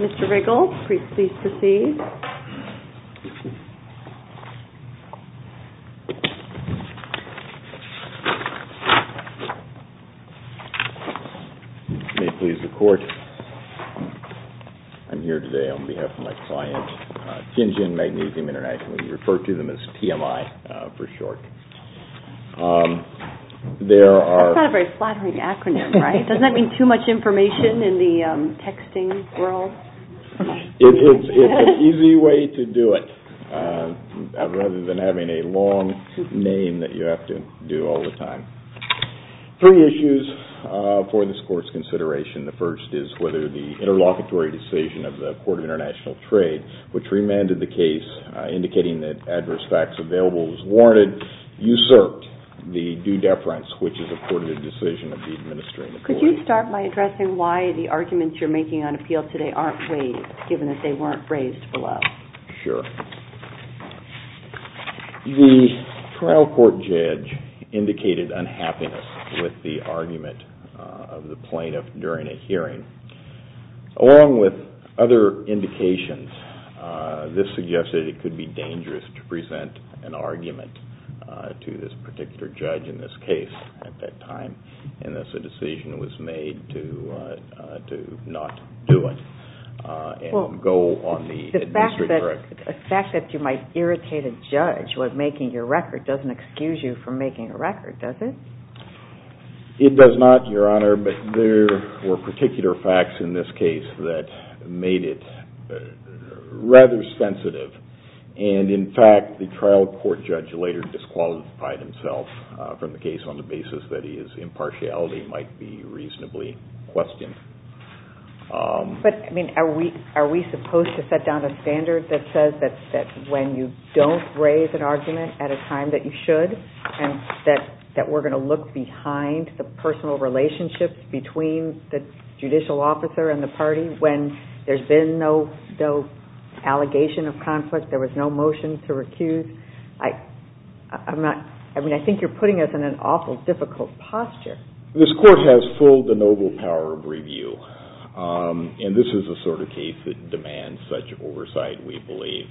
Mr. Riggle, please proceed. May it please the Court, I'm here today on behalf of my client, Tianjin Magnesium Int'l, we refer to them as TMI for short. That's not a very flattering acronym, right? Doesn't that mean too much information in the texting world? It's an easy way to do it, rather than having a long name that you have to do all the time. Three issues for this Court's consideration. The first is whether the interlocutory decision of the Court of International Trade, which remanded the case indicating that adverse facts available was warranted, usurped the due deference, which is a courted decision of the administrative board. Could you start by addressing why the arguments you're making on appeal today aren't raised, given that they weren't raised below? Sure. The trial court judge indicated unhappiness with the argument of the plaintiff during a hearing, along with other indications. This suggested it could be dangerous to present an argument to this particular judge in this case at that time, and thus a decision was made to not do it and go on the administrative record. The fact that you might irritate a judge while making your record doesn't excuse you from making a record, does it? It does not, Your Honor, but there were particular facts in this case that made it rather sensitive. In fact, the trial court judge later disqualified himself from the case on the basis that his impartiality might be reasonably questioned. Are we supposed to set down a standard that says that when you don't raise an argument at a time that you should, and that we're going to look behind the personal relationships between the judicial officer and the party when there's been no allegation of conflict, there was no motion to recuse? I mean, I think you're putting us in an awful difficult posture. This court has full, the noble power of review, and this is the sort of case that demands such oversight, we believe.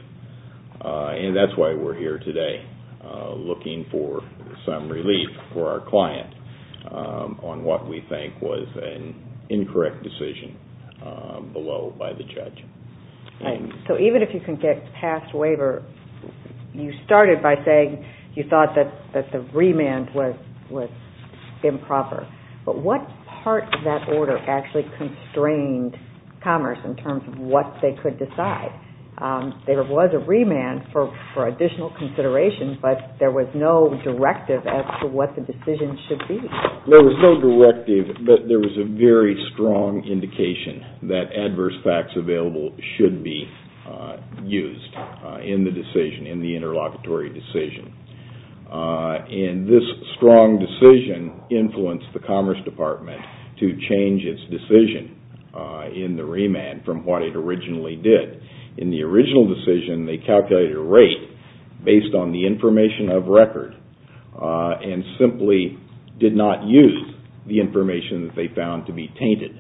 And that's why we're here today, looking for some relief for our client on what we think was an incorrect decision below by the judge. So even if you can get past waiver, you started by saying you thought that the remand was improper, but what part of that order actually constrained Commerce in terms of what they could decide? There was a remand for additional consideration, but there was no directive as to what the decision should be. There was no directive, but there was a very strong indication that adverse facts available should be used in the interlocutory decision. And this strong decision influenced the Commerce Department to change its decision in the remand from what it originally did. In the original decision, they calculated a rate based on the information of record and simply did not use the information that they found to be tainted.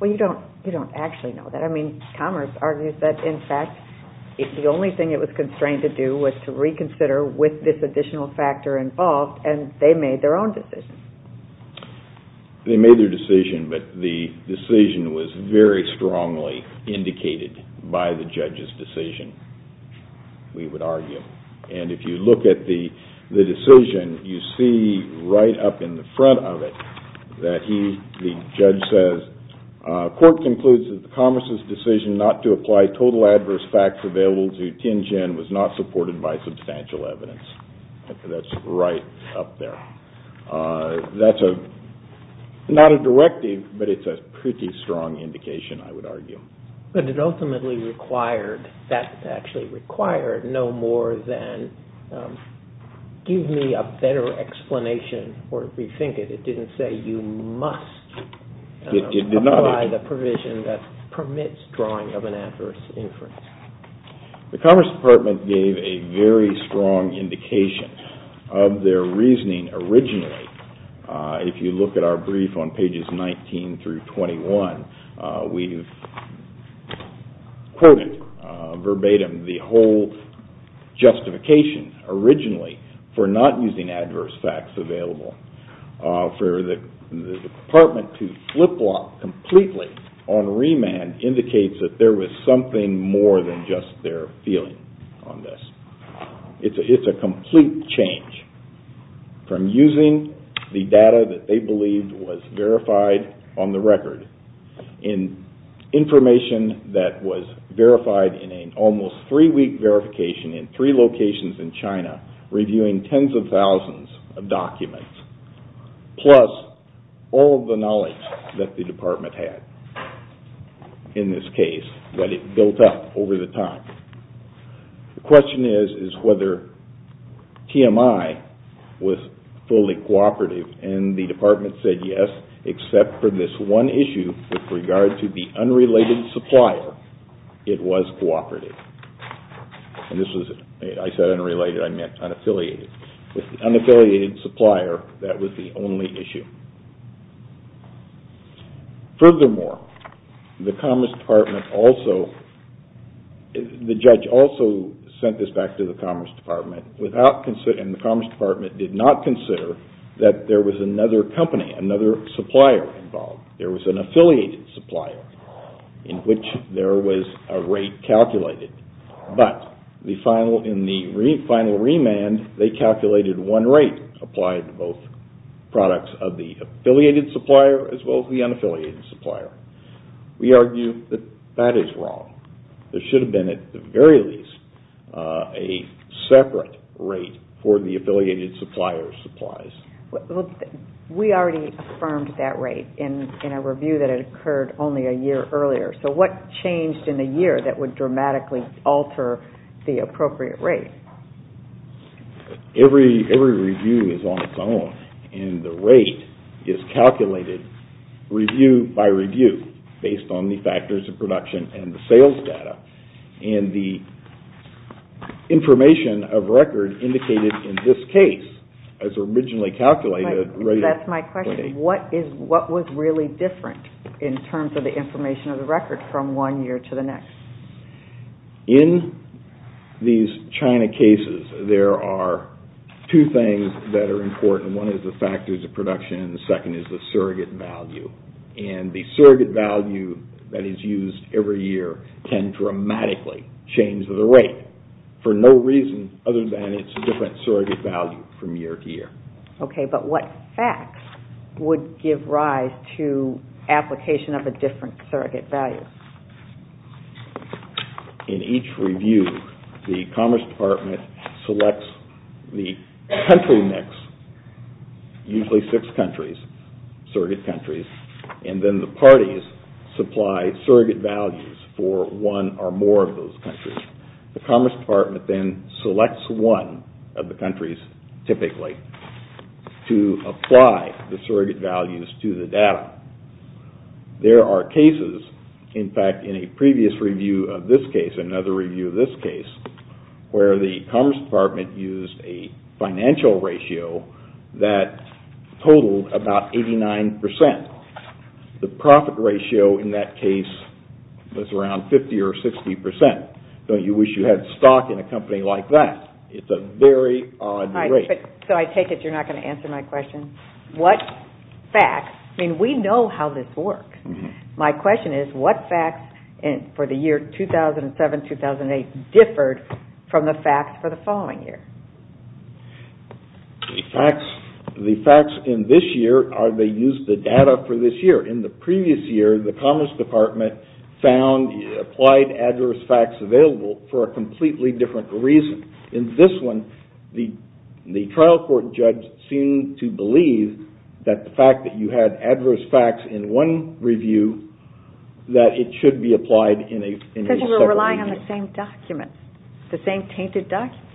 Well, you don't actually know that. I mean, Commerce argues that, in fact, the only thing it was constrained to do was to reconsider with this additional factor involved, and they made their own decision. They made their decision, but the decision was very strongly indicated by the judge's decision, we would argue. And if you look at the decision, you see right up in the front of it that the judge says, Court concludes that the Commerce's decision not to apply total adverse facts available to Tianjin was not supported by substantial evidence. That's right up there. That's not a directive, but it's a pretty strong indication, I would argue. But it ultimately required, that actually required no more than give me a better explanation or rethink it. It didn't say you must apply the provision that permits drawing of an adverse inference. The Commerce Department gave a very strong indication of their reasoning originally. If you look at our brief on pages 19 through 21, we've quoted verbatim the whole justification originally for not using adverse facts available. For the Department to flip-flop completely on remand indicates that there was something more than just their feeling on this. It's a complete change from using the data that they believed was verified on the record, in information that was verified in an almost three-week verification in three locations in China, reviewing tens of thousands of documents, plus all of the knowledge that the Department had in this case, what it built up over the time. The question is, is whether TMI was fully cooperative, and the Department said yes, except for this one issue with regard to the unrelated supplier, it was cooperative. And this was, I said unrelated, I meant unaffiliated. With the unaffiliated supplier, that was the only issue. Furthermore, the Commerce Department also, the judge also sent this back to the Commerce Department, and the Commerce Department did not consider that there was another company, another supplier involved. There was an affiliated supplier in which there was a rate calculated. But in the final remand, they calculated one rate applied to both products of the affiliated supplier as well as the unaffiliated supplier. We argue that that is wrong. There should have been, at the very least, a separate rate for the affiliated supplier's supplies. We already affirmed that rate in a review that had occurred only a year earlier. So what changed in a year that would dramatically alter the appropriate rate? Every review is on its own, and the rate is calculated review by review, based on the factors of production and the sales data. And the information of record indicated in this case, as originally calculated, That's my question. What was really different in terms of the information of the record from one year to the next? In these China cases, there are two things that are important. One is the factors of production, and the second is the surrogate value. And the surrogate value that is used every year can dramatically change the rate for no reason other than it's a different surrogate value from year to year. Okay, but what facts would give rise to application of a different surrogate value? In each review, the Commerce Department selects the country mix, usually six countries, surrogate countries, and then the parties supply surrogate values for one or more of those countries. The Commerce Department then selects one of the countries, typically, to apply the surrogate values to the data. There are cases, in fact, in a previous review of this case, another review of this case, where the Commerce Department used a financial ratio that totaled about 89%. The profit ratio in that case was around 50 or 60%. Don't you wish you had stock in a company like that? It's a very odd rate. So I take it you're not going to answer my question? What facts, I mean, we know how this works. My question is, what facts for the year 2007-2008 differed from the facts for the following year? The facts in this year are they used the data for this year. In the previous year, the Commerce Department found applied adverse facts available for a completely different reason. In this one, the trial court judge seemed to believe that the fact that you had adverse facts in one review, that it should be applied in a separate review. You're relying on the same document, the same tainted document.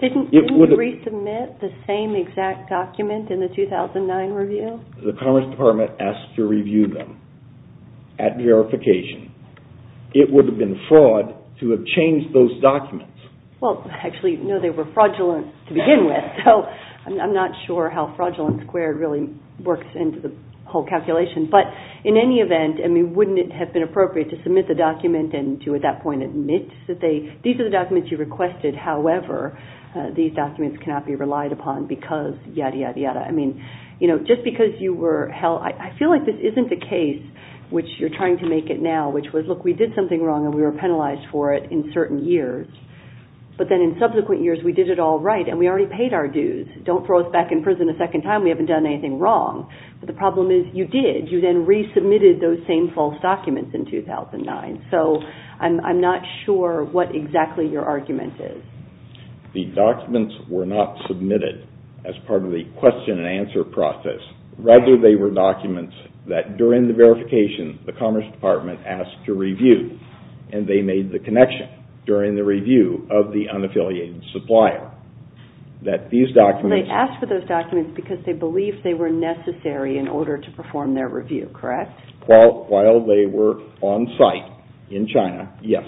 Didn't you resubmit the same exact document in the 2009 review? The Commerce Department asked to review them at verification. It would have been fraud to have changed those documents. Well, actually, no, they were fraudulent to begin with. So I'm not sure how fraudulent squared really works into the whole calculation. But in any event, I mean, wouldn't it have been appropriate to submit the document and to at that point admit that these are the documents you requested. However, these documents cannot be relied upon because yada, yada, yada. I mean, just because you were held – I feel like this isn't the case which you're trying to make it now, which was, look, we did something wrong and we were penalized for it in certain years. But then in subsequent years, we did it all right and we already paid our dues. Don't throw us back in prison a second time. We haven't done anything wrong. But the problem is you did. You then resubmitted those same false documents in 2009. So I'm not sure what exactly your argument is. The documents were not submitted as part of the question and answer process. Rather, they were documents that during the verification the Commerce Department asked to review and they made the connection during the review of the unaffiliated supplier that these documents – in order to perform their review, correct? While they were on site in China, yes.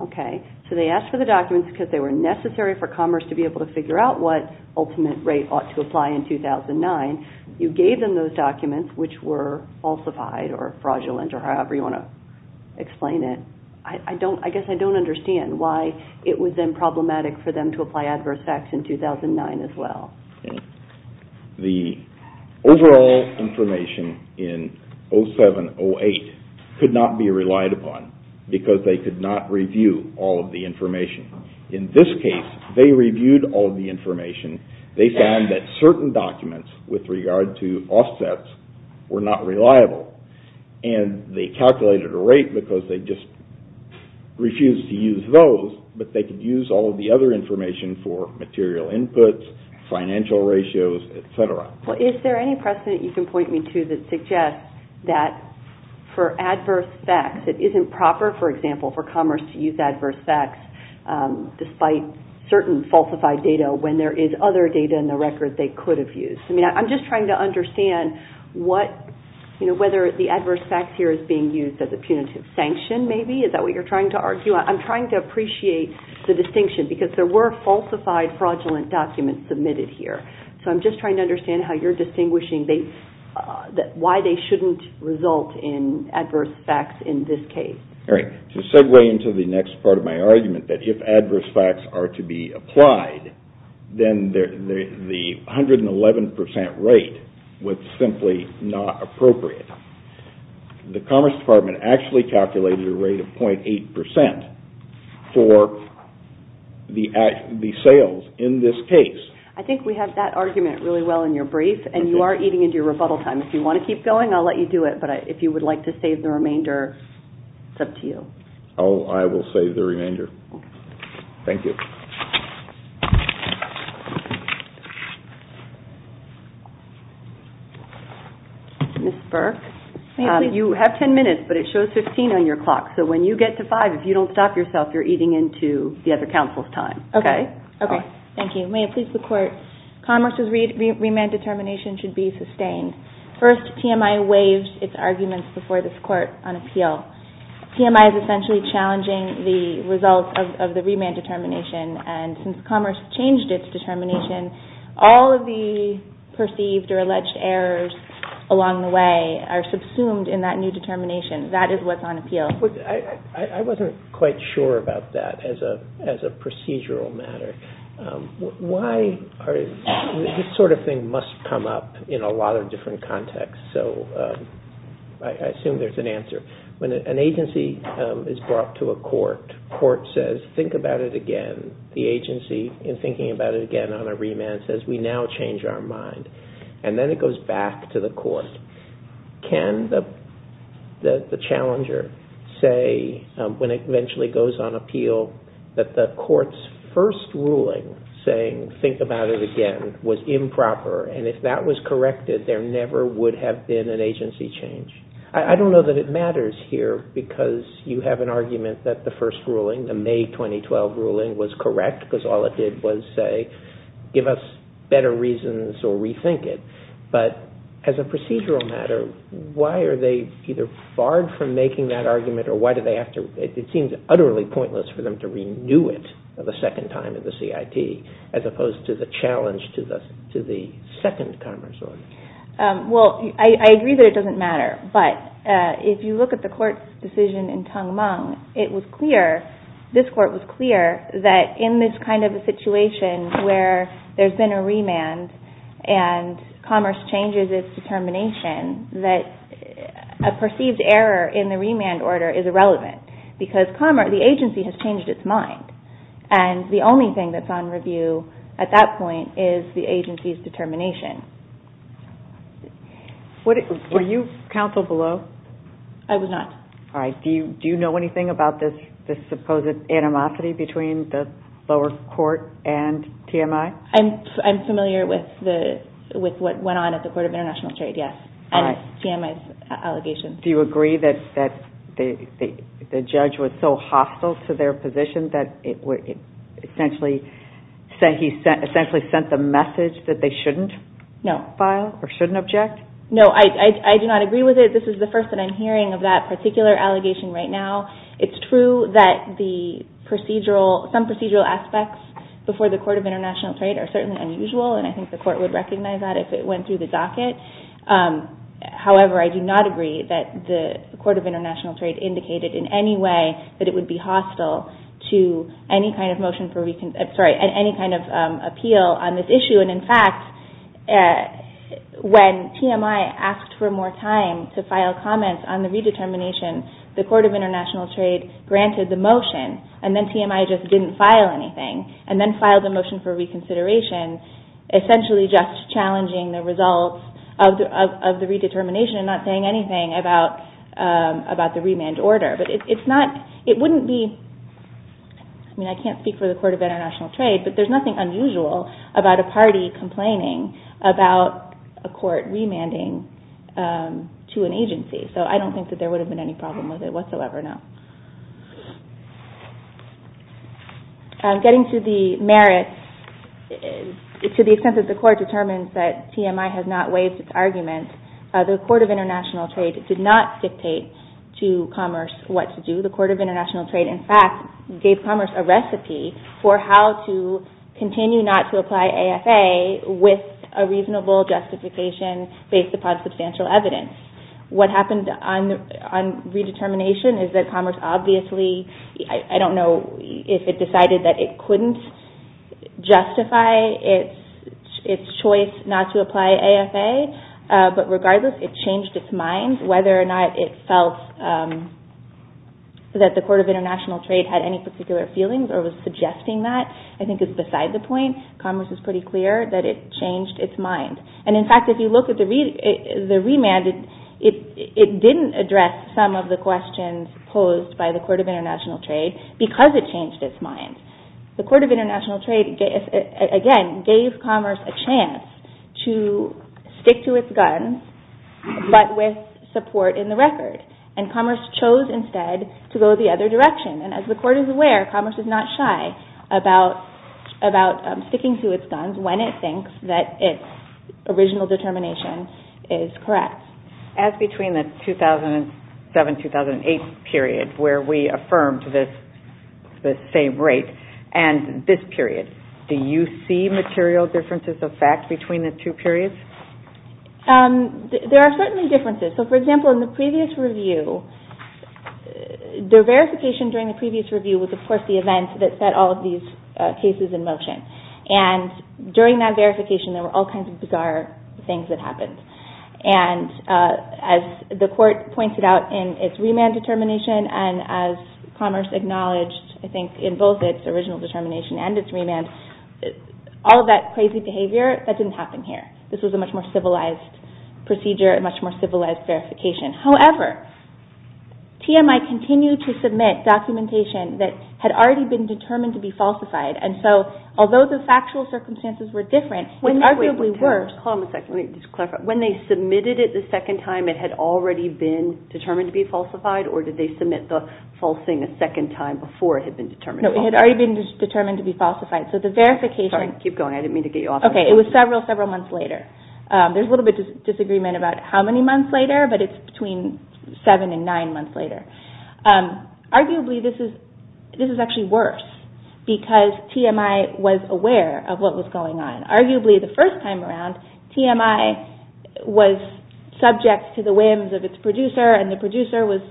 Okay. So they asked for the documents because they were necessary for Commerce to be able to figure out what ultimate rate ought to apply in 2009. You gave them those documents which were falsified or fraudulent or however you want to explain it. I guess I don't understand why it was then problematic for them to apply adverse facts in 2009 as well. The overall information in 07-08 could not be relied upon because they could not review all of the information. In this case, they reviewed all of the information. They found that certain documents with regard to offsets were not reliable. And they calculated a rate because they just refused to use those, but they could use all of the other information for material inputs, financial ratios, et cetera. Well, is there any precedent you can point me to that suggests that for adverse facts it isn't proper, for example, for Commerce to use adverse facts despite certain falsified data when there is other data in the record they could have used? I mean, I'm just trying to understand whether the adverse facts here is being used as a punitive sanction maybe. Is that what you're trying to argue? I'm trying to appreciate the distinction because there were falsified fraudulent documents submitted here. So I'm just trying to understand how you're distinguishing why they shouldn't result in adverse facts in this case. To segue into the next part of my argument that if adverse facts are to be applied, then the 111 percent rate was simply not appropriate. The Commerce Department actually calculated a rate of .8 percent for the sales in this case. I think we have that argument really well in your brief, and you are eating into your rebuttal time. If you want to keep going, I'll let you do it, but if you would like to save the remainder, it's up to you. Oh, I will save the remainder. Thank you. Ms. Burke, you have 10 minutes, but it shows 15 on your clock. So when you get to five, if you don't stop yourself, you're eating into the other counsel's time. Okay. Thank you. May it please the Court, Commerce's remand determination should be sustained. First, TMI waives its arguments before this Court on appeal. TMI is essentially challenging the results of the remand determination, and since Commerce changed its determination, all of the perceived or alleged errors along the way are subsumed in that new determination. That is what's on appeal. I wasn't quite sure about that as a procedural matter. This sort of thing must come up in a lot of different contexts, so I assume there's an answer. When an agency is brought to a court, the court says, think about it again. The agency, in thinking about it again on a remand, says, we now change our mind. And then it goes back to the court. Can the challenger say, when it eventually goes on appeal, that the court's first ruling saying, think about it again, was improper, and if that was corrected, there never would have been an agency change? I don't know that it matters here, because you have an argument that the first ruling, the May 2012 ruling, was correct, because all it did was say, give us better reasons or rethink it. But as a procedural matter, why are they either barred from making that argument, or why do they have to? It seems utterly pointless for them to renew it the second time in the CIT, as opposed to the challenge to the second Commerce order. Well, I agree that it doesn't matter, but if you look at the court's decision in Tung Mong, it was clear, this court was clear, that in this kind of a situation where there's been a remand, and Commerce changes its determination, that a perceived error in the remand order is irrelevant. Because the agency has changed its mind, and the only thing that's on review at that point is the agency's determination. Were you counsel below? I was not. Do you know anything about this supposed animosity between the lower court and TMI? I'm familiar with what went on at the Court of International Trade, yes. And TMI's allegations. Do you agree that the judge was so hostile to their position that he essentially sent the message that they shouldn't file, or shouldn't object? No, I do not agree with it. This is the first that I'm hearing of that particular allegation right now. It's true that some procedural aspects before the Court of International Trade are certainly unusual, and I think the court would recognize that if it went through the docket. However, I do not agree that the Court of International Trade indicated in any way that it would be hostile to any kind of appeal on this issue. And in fact, when TMI asked for more time to file comments on the redetermination, the Court of International Trade granted the motion, and then TMI just didn't file anything, and then filed a motion for reconsideration, essentially just challenging the results of the redetermination, and not saying anything about the remand order. I can't speak for the Court of International Trade, but there's nothing unusual about a party complaining about a court remanding to an agency. So I don't think that there would have been any problem with it whatsoever, no. Getting to the merits, to the extent that the Court determines that TMI has not waived its argument, the Court of International Trade did not dictate to Commerce what to do. The Court of International Trade, in fact, gave Commerce a recipe for how to continue not to apply AFA with a reasonable justification based upon substantial evidence. What happened on redetermination is that Commerce obviously, I don't know if it decided that it couldn't justify its choice not to apply AFA, but regardless, it changed its mind. Whether or not it felt that the Court of International Trade had any particular feelings or was suggesting that, I think is beside the point. Commerce is pretty clear that it changed its mind. And in fact, if you look at the remand, it didn't address some of the questions posed by the Court of International Trade because it changed its mind. The Court of International Trade, again, gave Commerce a chance to stick to its guns, but with support in the record. And Commerce chose instead to go the other direction. And as the Court is aware, Commerce is not shy about sticking to its guns when it thinks that its original determination is correct. As between the 2007-2008 period where we affirmed this same rate and this period, do you see material differences of fact between the two periods? There are certainly differences. So, for example, in the previous review, the verification during the previous review was, of course, the event that set all of these cases in motion. And during that verification, there were all kinds of bizarre things that happened. And as the Court pointed out in its remand determination, and as Commerce acknowledged, I think, in both its original determination and its remand, all of that crazy behavior, that didn't happen here. This was a much more civilized procedure, a much more civilized verification. However, TMI continued to submit documentation that had already been determined to be falsified. And so, although the factual circumstances were different, when they submitted it the second time, it had already been determined to be falsified? No, it had already been determined to be falsified. It was several months later. There's a little bit of disagreement about how many months later, but it's between seven and nine months later. Arguably, this is actually worse because TMI was aware of what was going on. Arguably, the first time around, TMI was subject to the whims of its producer, and the producer was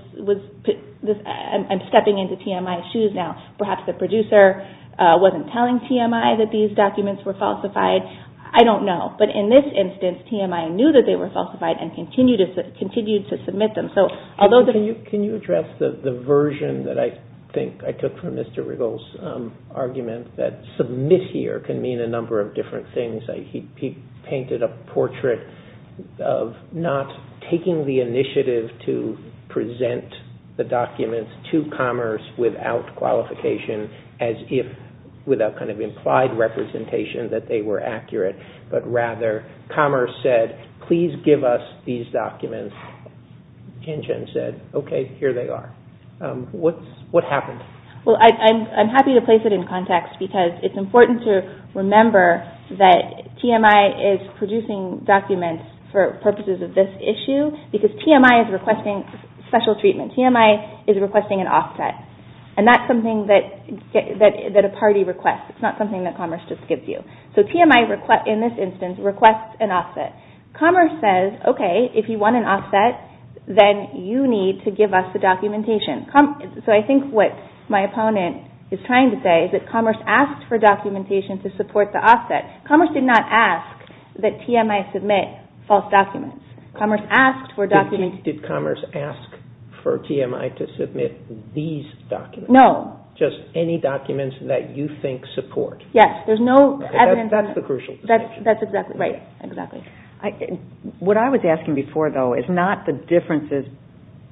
stepping into TMI's shoes now. Perhaps the producer wasn't telling TMI that these documents were falsified. I don't know, but in this instance, TMI knew that they were falsified and continued to submit them. Can you address the version that I think I took from Mr. Riggles' argument that submit here can mean a number of different things? He painted a portrait of not taking the initiative to present the documents to Commerce without qualification, as if without implied representation that they were accurate, but rather Commerce said, please give us these documents. And Jen said, okay, here they are. What happened? I'm happy to place it in context because it's important to remember that TMI is producing documents for purposes of this issue because TMI is requesting special treatment. TMI is requesting an offset, and that's something that a party requests. It's not something that Commerce just gives you. So TMI, in this instance, requests an offset. Commerce says, okay, if you want an offset, then you need to give us the documentation. So I think what my opponent is trying to say is that Commerce asked for documentation to support the offset. Commerce did not ask that TMI submit false documents. Did Commerce ask for TMI to submit these documents? No. Just any documents that you think support? Yes. That's exactly right. What I was asking before, though, is not the differences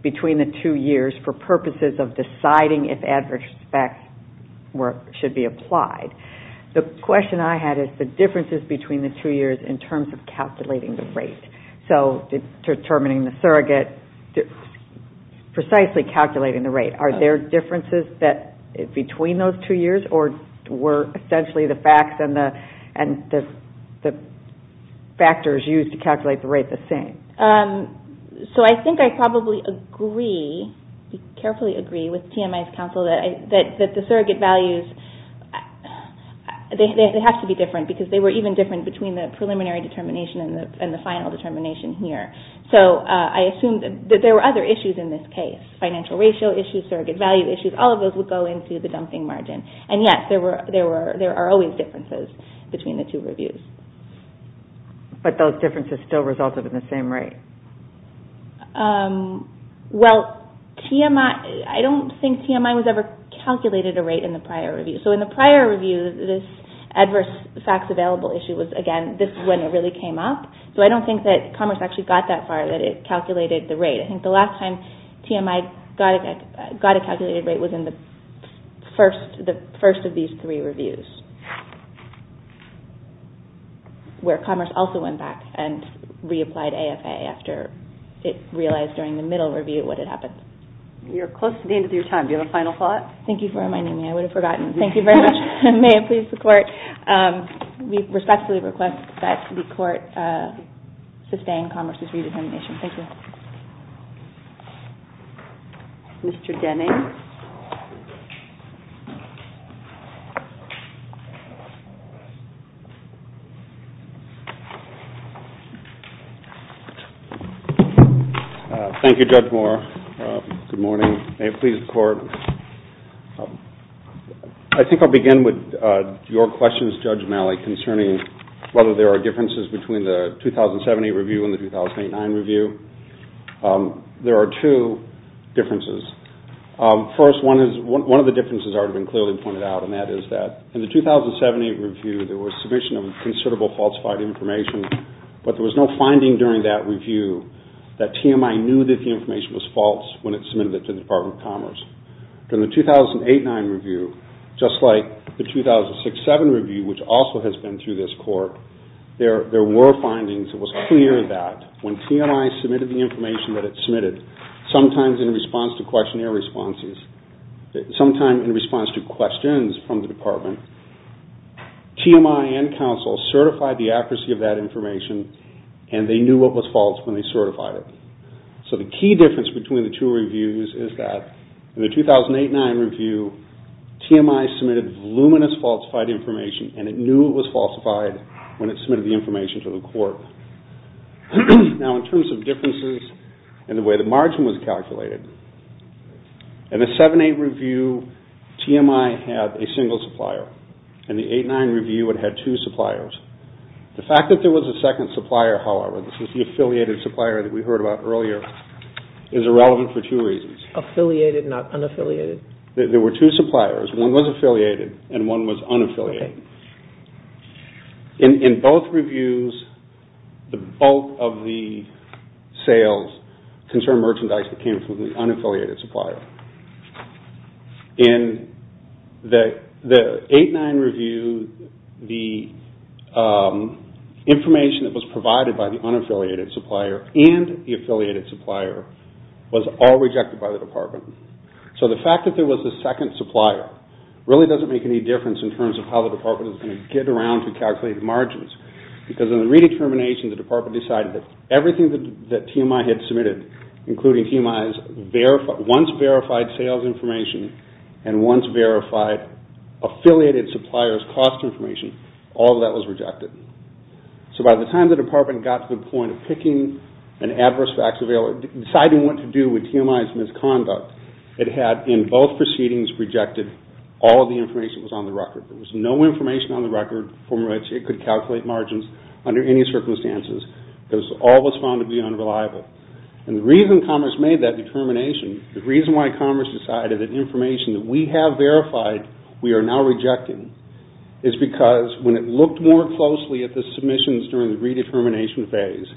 between the two years for purposes of deciding if adverse effects should be applied. The question I had is the differences between the two years in terms of calculating the rate. So determining the surrogate, precisely calculating the rate. Are there differences between those two years or were essentially the facts and the factors used to calculate the rate the same? So I think I probably agree, carefully agree with TMI's counsel that the surrogate values, they have to be different because they were even different between the preliminary determination and the final determination here. So I assume that there were other issues in this case. Financial ratio issues, surrogate value issues, all of those would go into the dumping margin. And yes, there are always differences between the two reviews. But those differences still resulted in the same rate? Well, I don't think TMI was ever calculated a rate in the prior review. So in the prior review, this adverse facts available issue was, again, this is when it really came up. So I don't think that Commerce actually got that far that it calculated the rate. I think the last time TMI got a calculated rate was in the first of these three reviews, where Commerce also went back and reapplied AFA after it realized during the middle review what had happened. We are close to the end of your time. Do you have a final thought? Thank you for reminding me. I would have forgotten. Thank you very much. May it please the Court. We respectfully request that the Court sustain Commerce's re-determination. Thank you. Mr. Denning? Thank you, Judge Moore. Good morning. May it please the Court. I think I'll begin with your questions, Judge Malley, concerning whether there are differences between the 2070 review and the 2008-2009 review. There are two differences. First, one of the differences has already been clearly pointed out, and that is that in the 2070 review, there was submission of considerable falsified information, but there was no finding during that review that TMI knew that the information was false when it submitted it to the Department of Commerce. In the 2008-2009 review, just like the 2006-2007 review, which also has been through this Court, there were findings. It was clear that when TMI submitted the information that it submitted, sometimes in response to questionnaire responses, sometimes in response to questions from the Department, TMI and counsel certified the accuracy of that information, and they knew it was false when they certified it. So the key difference between the two reviews is that in the 2008-2009 review, TMI submitted voluminous falsified information, and it knew it was falsified when it submitted the information to the Court. Now, in terms of differences in the way the margin was calculated, in the 2007-2008 review, TMI had a single supplier. In the 2008-2009 review, it had two suppliers. The fact that there was a second supplier, however, the affiliated supplier that we heard about earlier, is irrelevant for two reasons. Affiliated, not unaffiliated? There were two suppliers. One was affiliated, and one was unaffiliated. In both reviews, both of the sales concerned merchandise that came from the unaffiliated supplier. In the 2008-2009 review, the information that was provided by the unaffiliated supplier and the affiliated supplier was all rejected by the Department. So the fact that there was a second supplier really doesn't make any difference in terms of how the Department is going to get around to calculate margins, because in the redetermination, the Department decided that everything that TMI had submitted, including TMI's once verified sales information and once verified affiliated supplier's cost information, all of that was rejected. So by the time the Department got to the point of picking an adverse facts available, deciding what to do with TMI's misconduct, it had, in both proceedings, rejected all of the information that was on the record. There was no information on the record from which it could calculate margins under any circumstances, because all was found to be unreliable. And the reason Commerce made that determination, the reason why Commerce decided that information that we have verified, we are now rejecting, is because when it looked more closely at the submissions during the redetermination phase,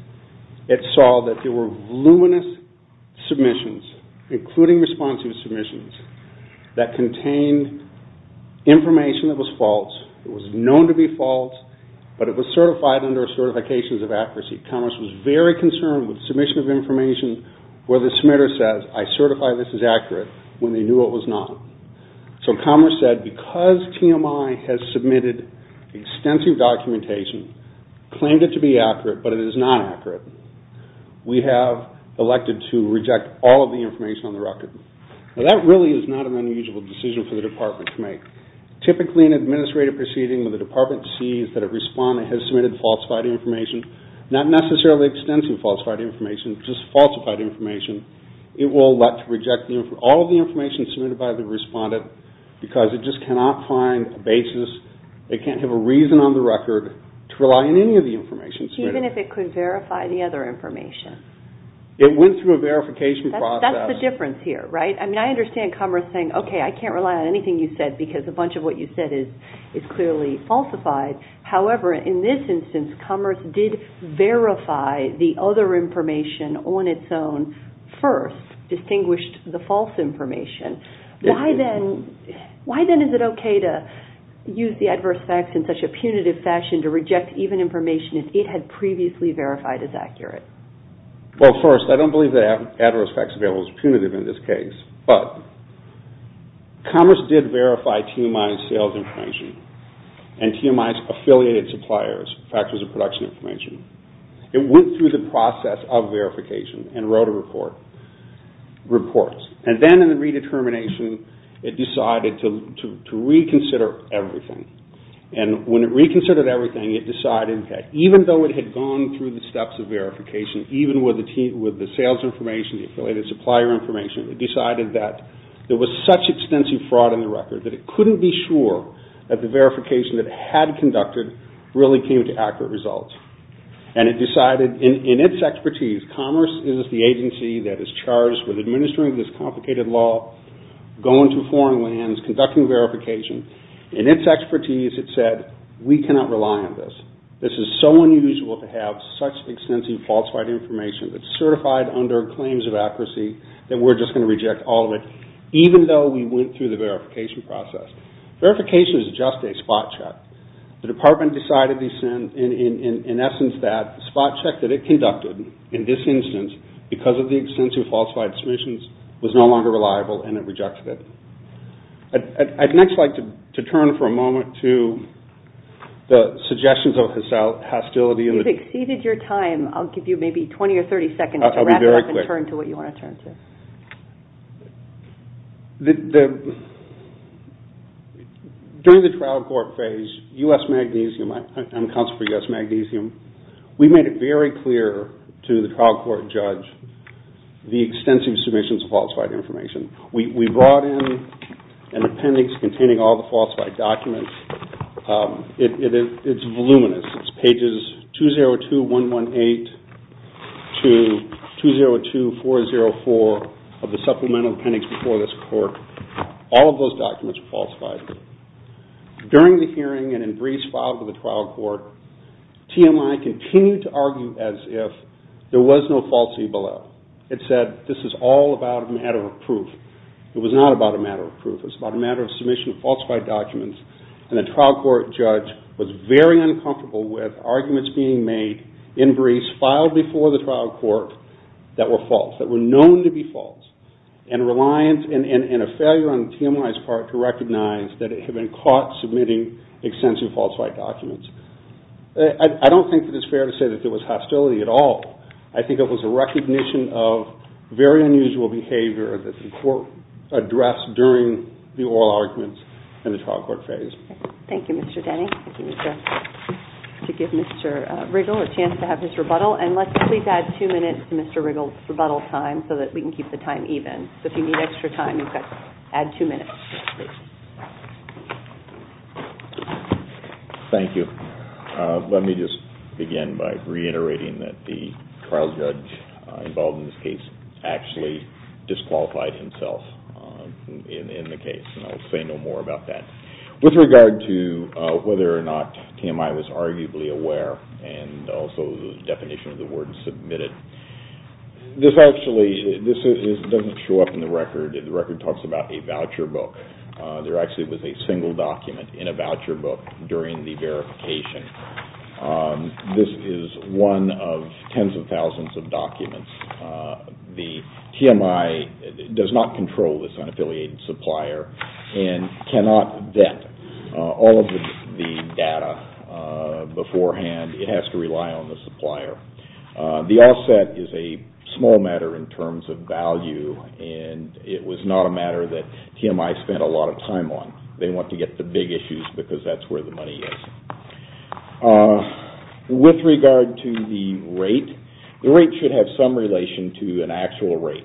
it saw that there were voluminous submissions, including responsive submissions, that contained information that was false, that was known to be false, but it was certified under certifications of accuracy. Commerce was very concerned with submission of information where the submitter says, I certify this is accurate, when they knew it was not. So Commerce said, because TMI has submitted extensive documentation, claimed it to be accurate, but it is not accurate, we have elected to reject all of the information on the record. Now that really is not an unusual decision for the department to make. Typically in an administrative proceeding when the department sees that a respondent has submitted falsified information, not necessarily extensive falsified information, just falsified information, it will elect to reject all of the information submitted by the respondent because it just cannot find a basis, it can't have a reason on the record to rely on any of the information submitted. Even if it could verify the other information? It went through a verification process. That's the difference here, right? I understand Commerce saying, okay, I can't rely on anything you said because a bunch of what you said is clearly falsified. However, in this instance, Commerce did verify the other information on its own first, distinguished the false information. Why then is it okay to use the adverse facts in such a Well, first, I don't believe that adverse facts available is punitive in this case, but Commerce did verify TMI's sales information and TMI's affiliated suppliers' factors of production information. It went through the process of verification and wrote a report. And then in the redetermination with the sales information, the affiliated supplier information, it decided that there was such extensive fraud in the record that it couldn't be sure that the verification that it had conducted really came to accurate results. And it decided in its expertise, Commerce is the agency that is charged with administering this complicated law, going to foreign lands, conducting verification. In its expertise, it said, we cannot rely on this. This is so unusual to have such extensive falsified information that's certified under claims of accuracy that we're just going to reject all of it, even though we went through the verification process. Verification is just a spot check. The department decided in essence that the spot check that it conducted in this instance because of the extensive falsified submissions was no longer reliable and it exceeded your time. I'll give you maybe 20 or 30 seconds to wrap it up and turn to what you want to turn to. During the trial court phase, I'm counsel for U.S. Magnesium, we made it very clear to the trial court judge the extensive submissions of falsified information. We brought in an appendix containing all the falsified documents. It's voluminous. It's pages 202-118 to 202-404 of the supplemental appendix before this court. All of those documents were falsified. During the hearing and in briefs filed to the trial court, TMI continued to argue as if there was no falsity below. It said this is all about a matter of proof. It was not about a matter of proof. It was about a matter of submission of falsified documents and the trial court judge was very uncomfortable with arguments being made in briefs filed before the trial court that were false, that were known to be false and a failure on TMI's part to recognize that it had been caught submitting extensive falsified documents. I don't think that it's fair to say that there was hostility at all. I think it was a recognition of very unusual behavior that the court addressed during the oral arguments in the trial court phase. Give Mr. Riggle a chance to have his rebuttal and let's please add two minutes to Mr. Riggle's rebuttal time so that we can keep the time even. If you need extra time, add two minutes. Thank you. Let me just begin by reiterating that the trial judge involved in this case actually disqualified himself in the case and I will say no more about that. With regard to whether or not TMI was arguably aware and also the definition of the word submitted, this actually doesn't show up in the record. The record talks about a voucher book. There actually was a single document in a voucher book during the verification. This is one of tens of thousands of documents. The TMI does not control this unaffiliated supplier and cannot vet all of the data beforehand. It has to rely on the supplier. The offset is a small matter in terms of value and it was not a matter that TMI spent a lot of time on. They want to get the big issues because that's where the money is. With regard to the rate, the rate should have some relation to an actual rate.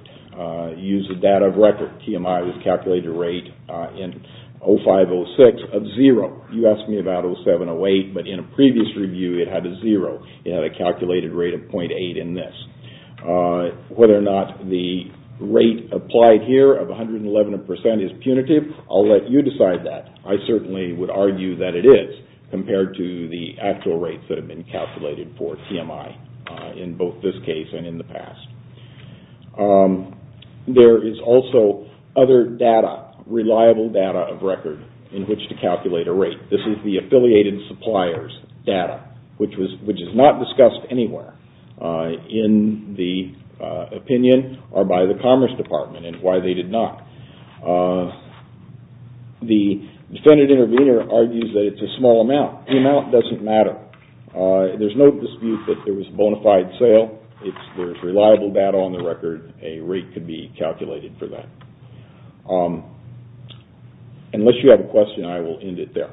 Use the data of record. TMI was calculated a rate in 05-06 of zero. You asked me about 07-08, but in a previous review it had a zero. It had a calculated rate of 0.8 in this. Whether or not the rate applied here of 111% is punitive, I'll let you decide that. I certainly would argue that it is compared to the actual rates that have been calculated for TMI in both this case and in the other case. This is not reliable data of record in which to calculate a rate. This is the affiliated supplier's data, which is not discussed anywhere in the opinion or by the Commerce Department and why they did not. The defendant intervener argues that it's a small amount. The amount doesn't matter. There's no dispute that there was bona fide sale. There's reliable data on the record. A rate could be calculated for that. Unless you have a question, I will end it there. Thank you.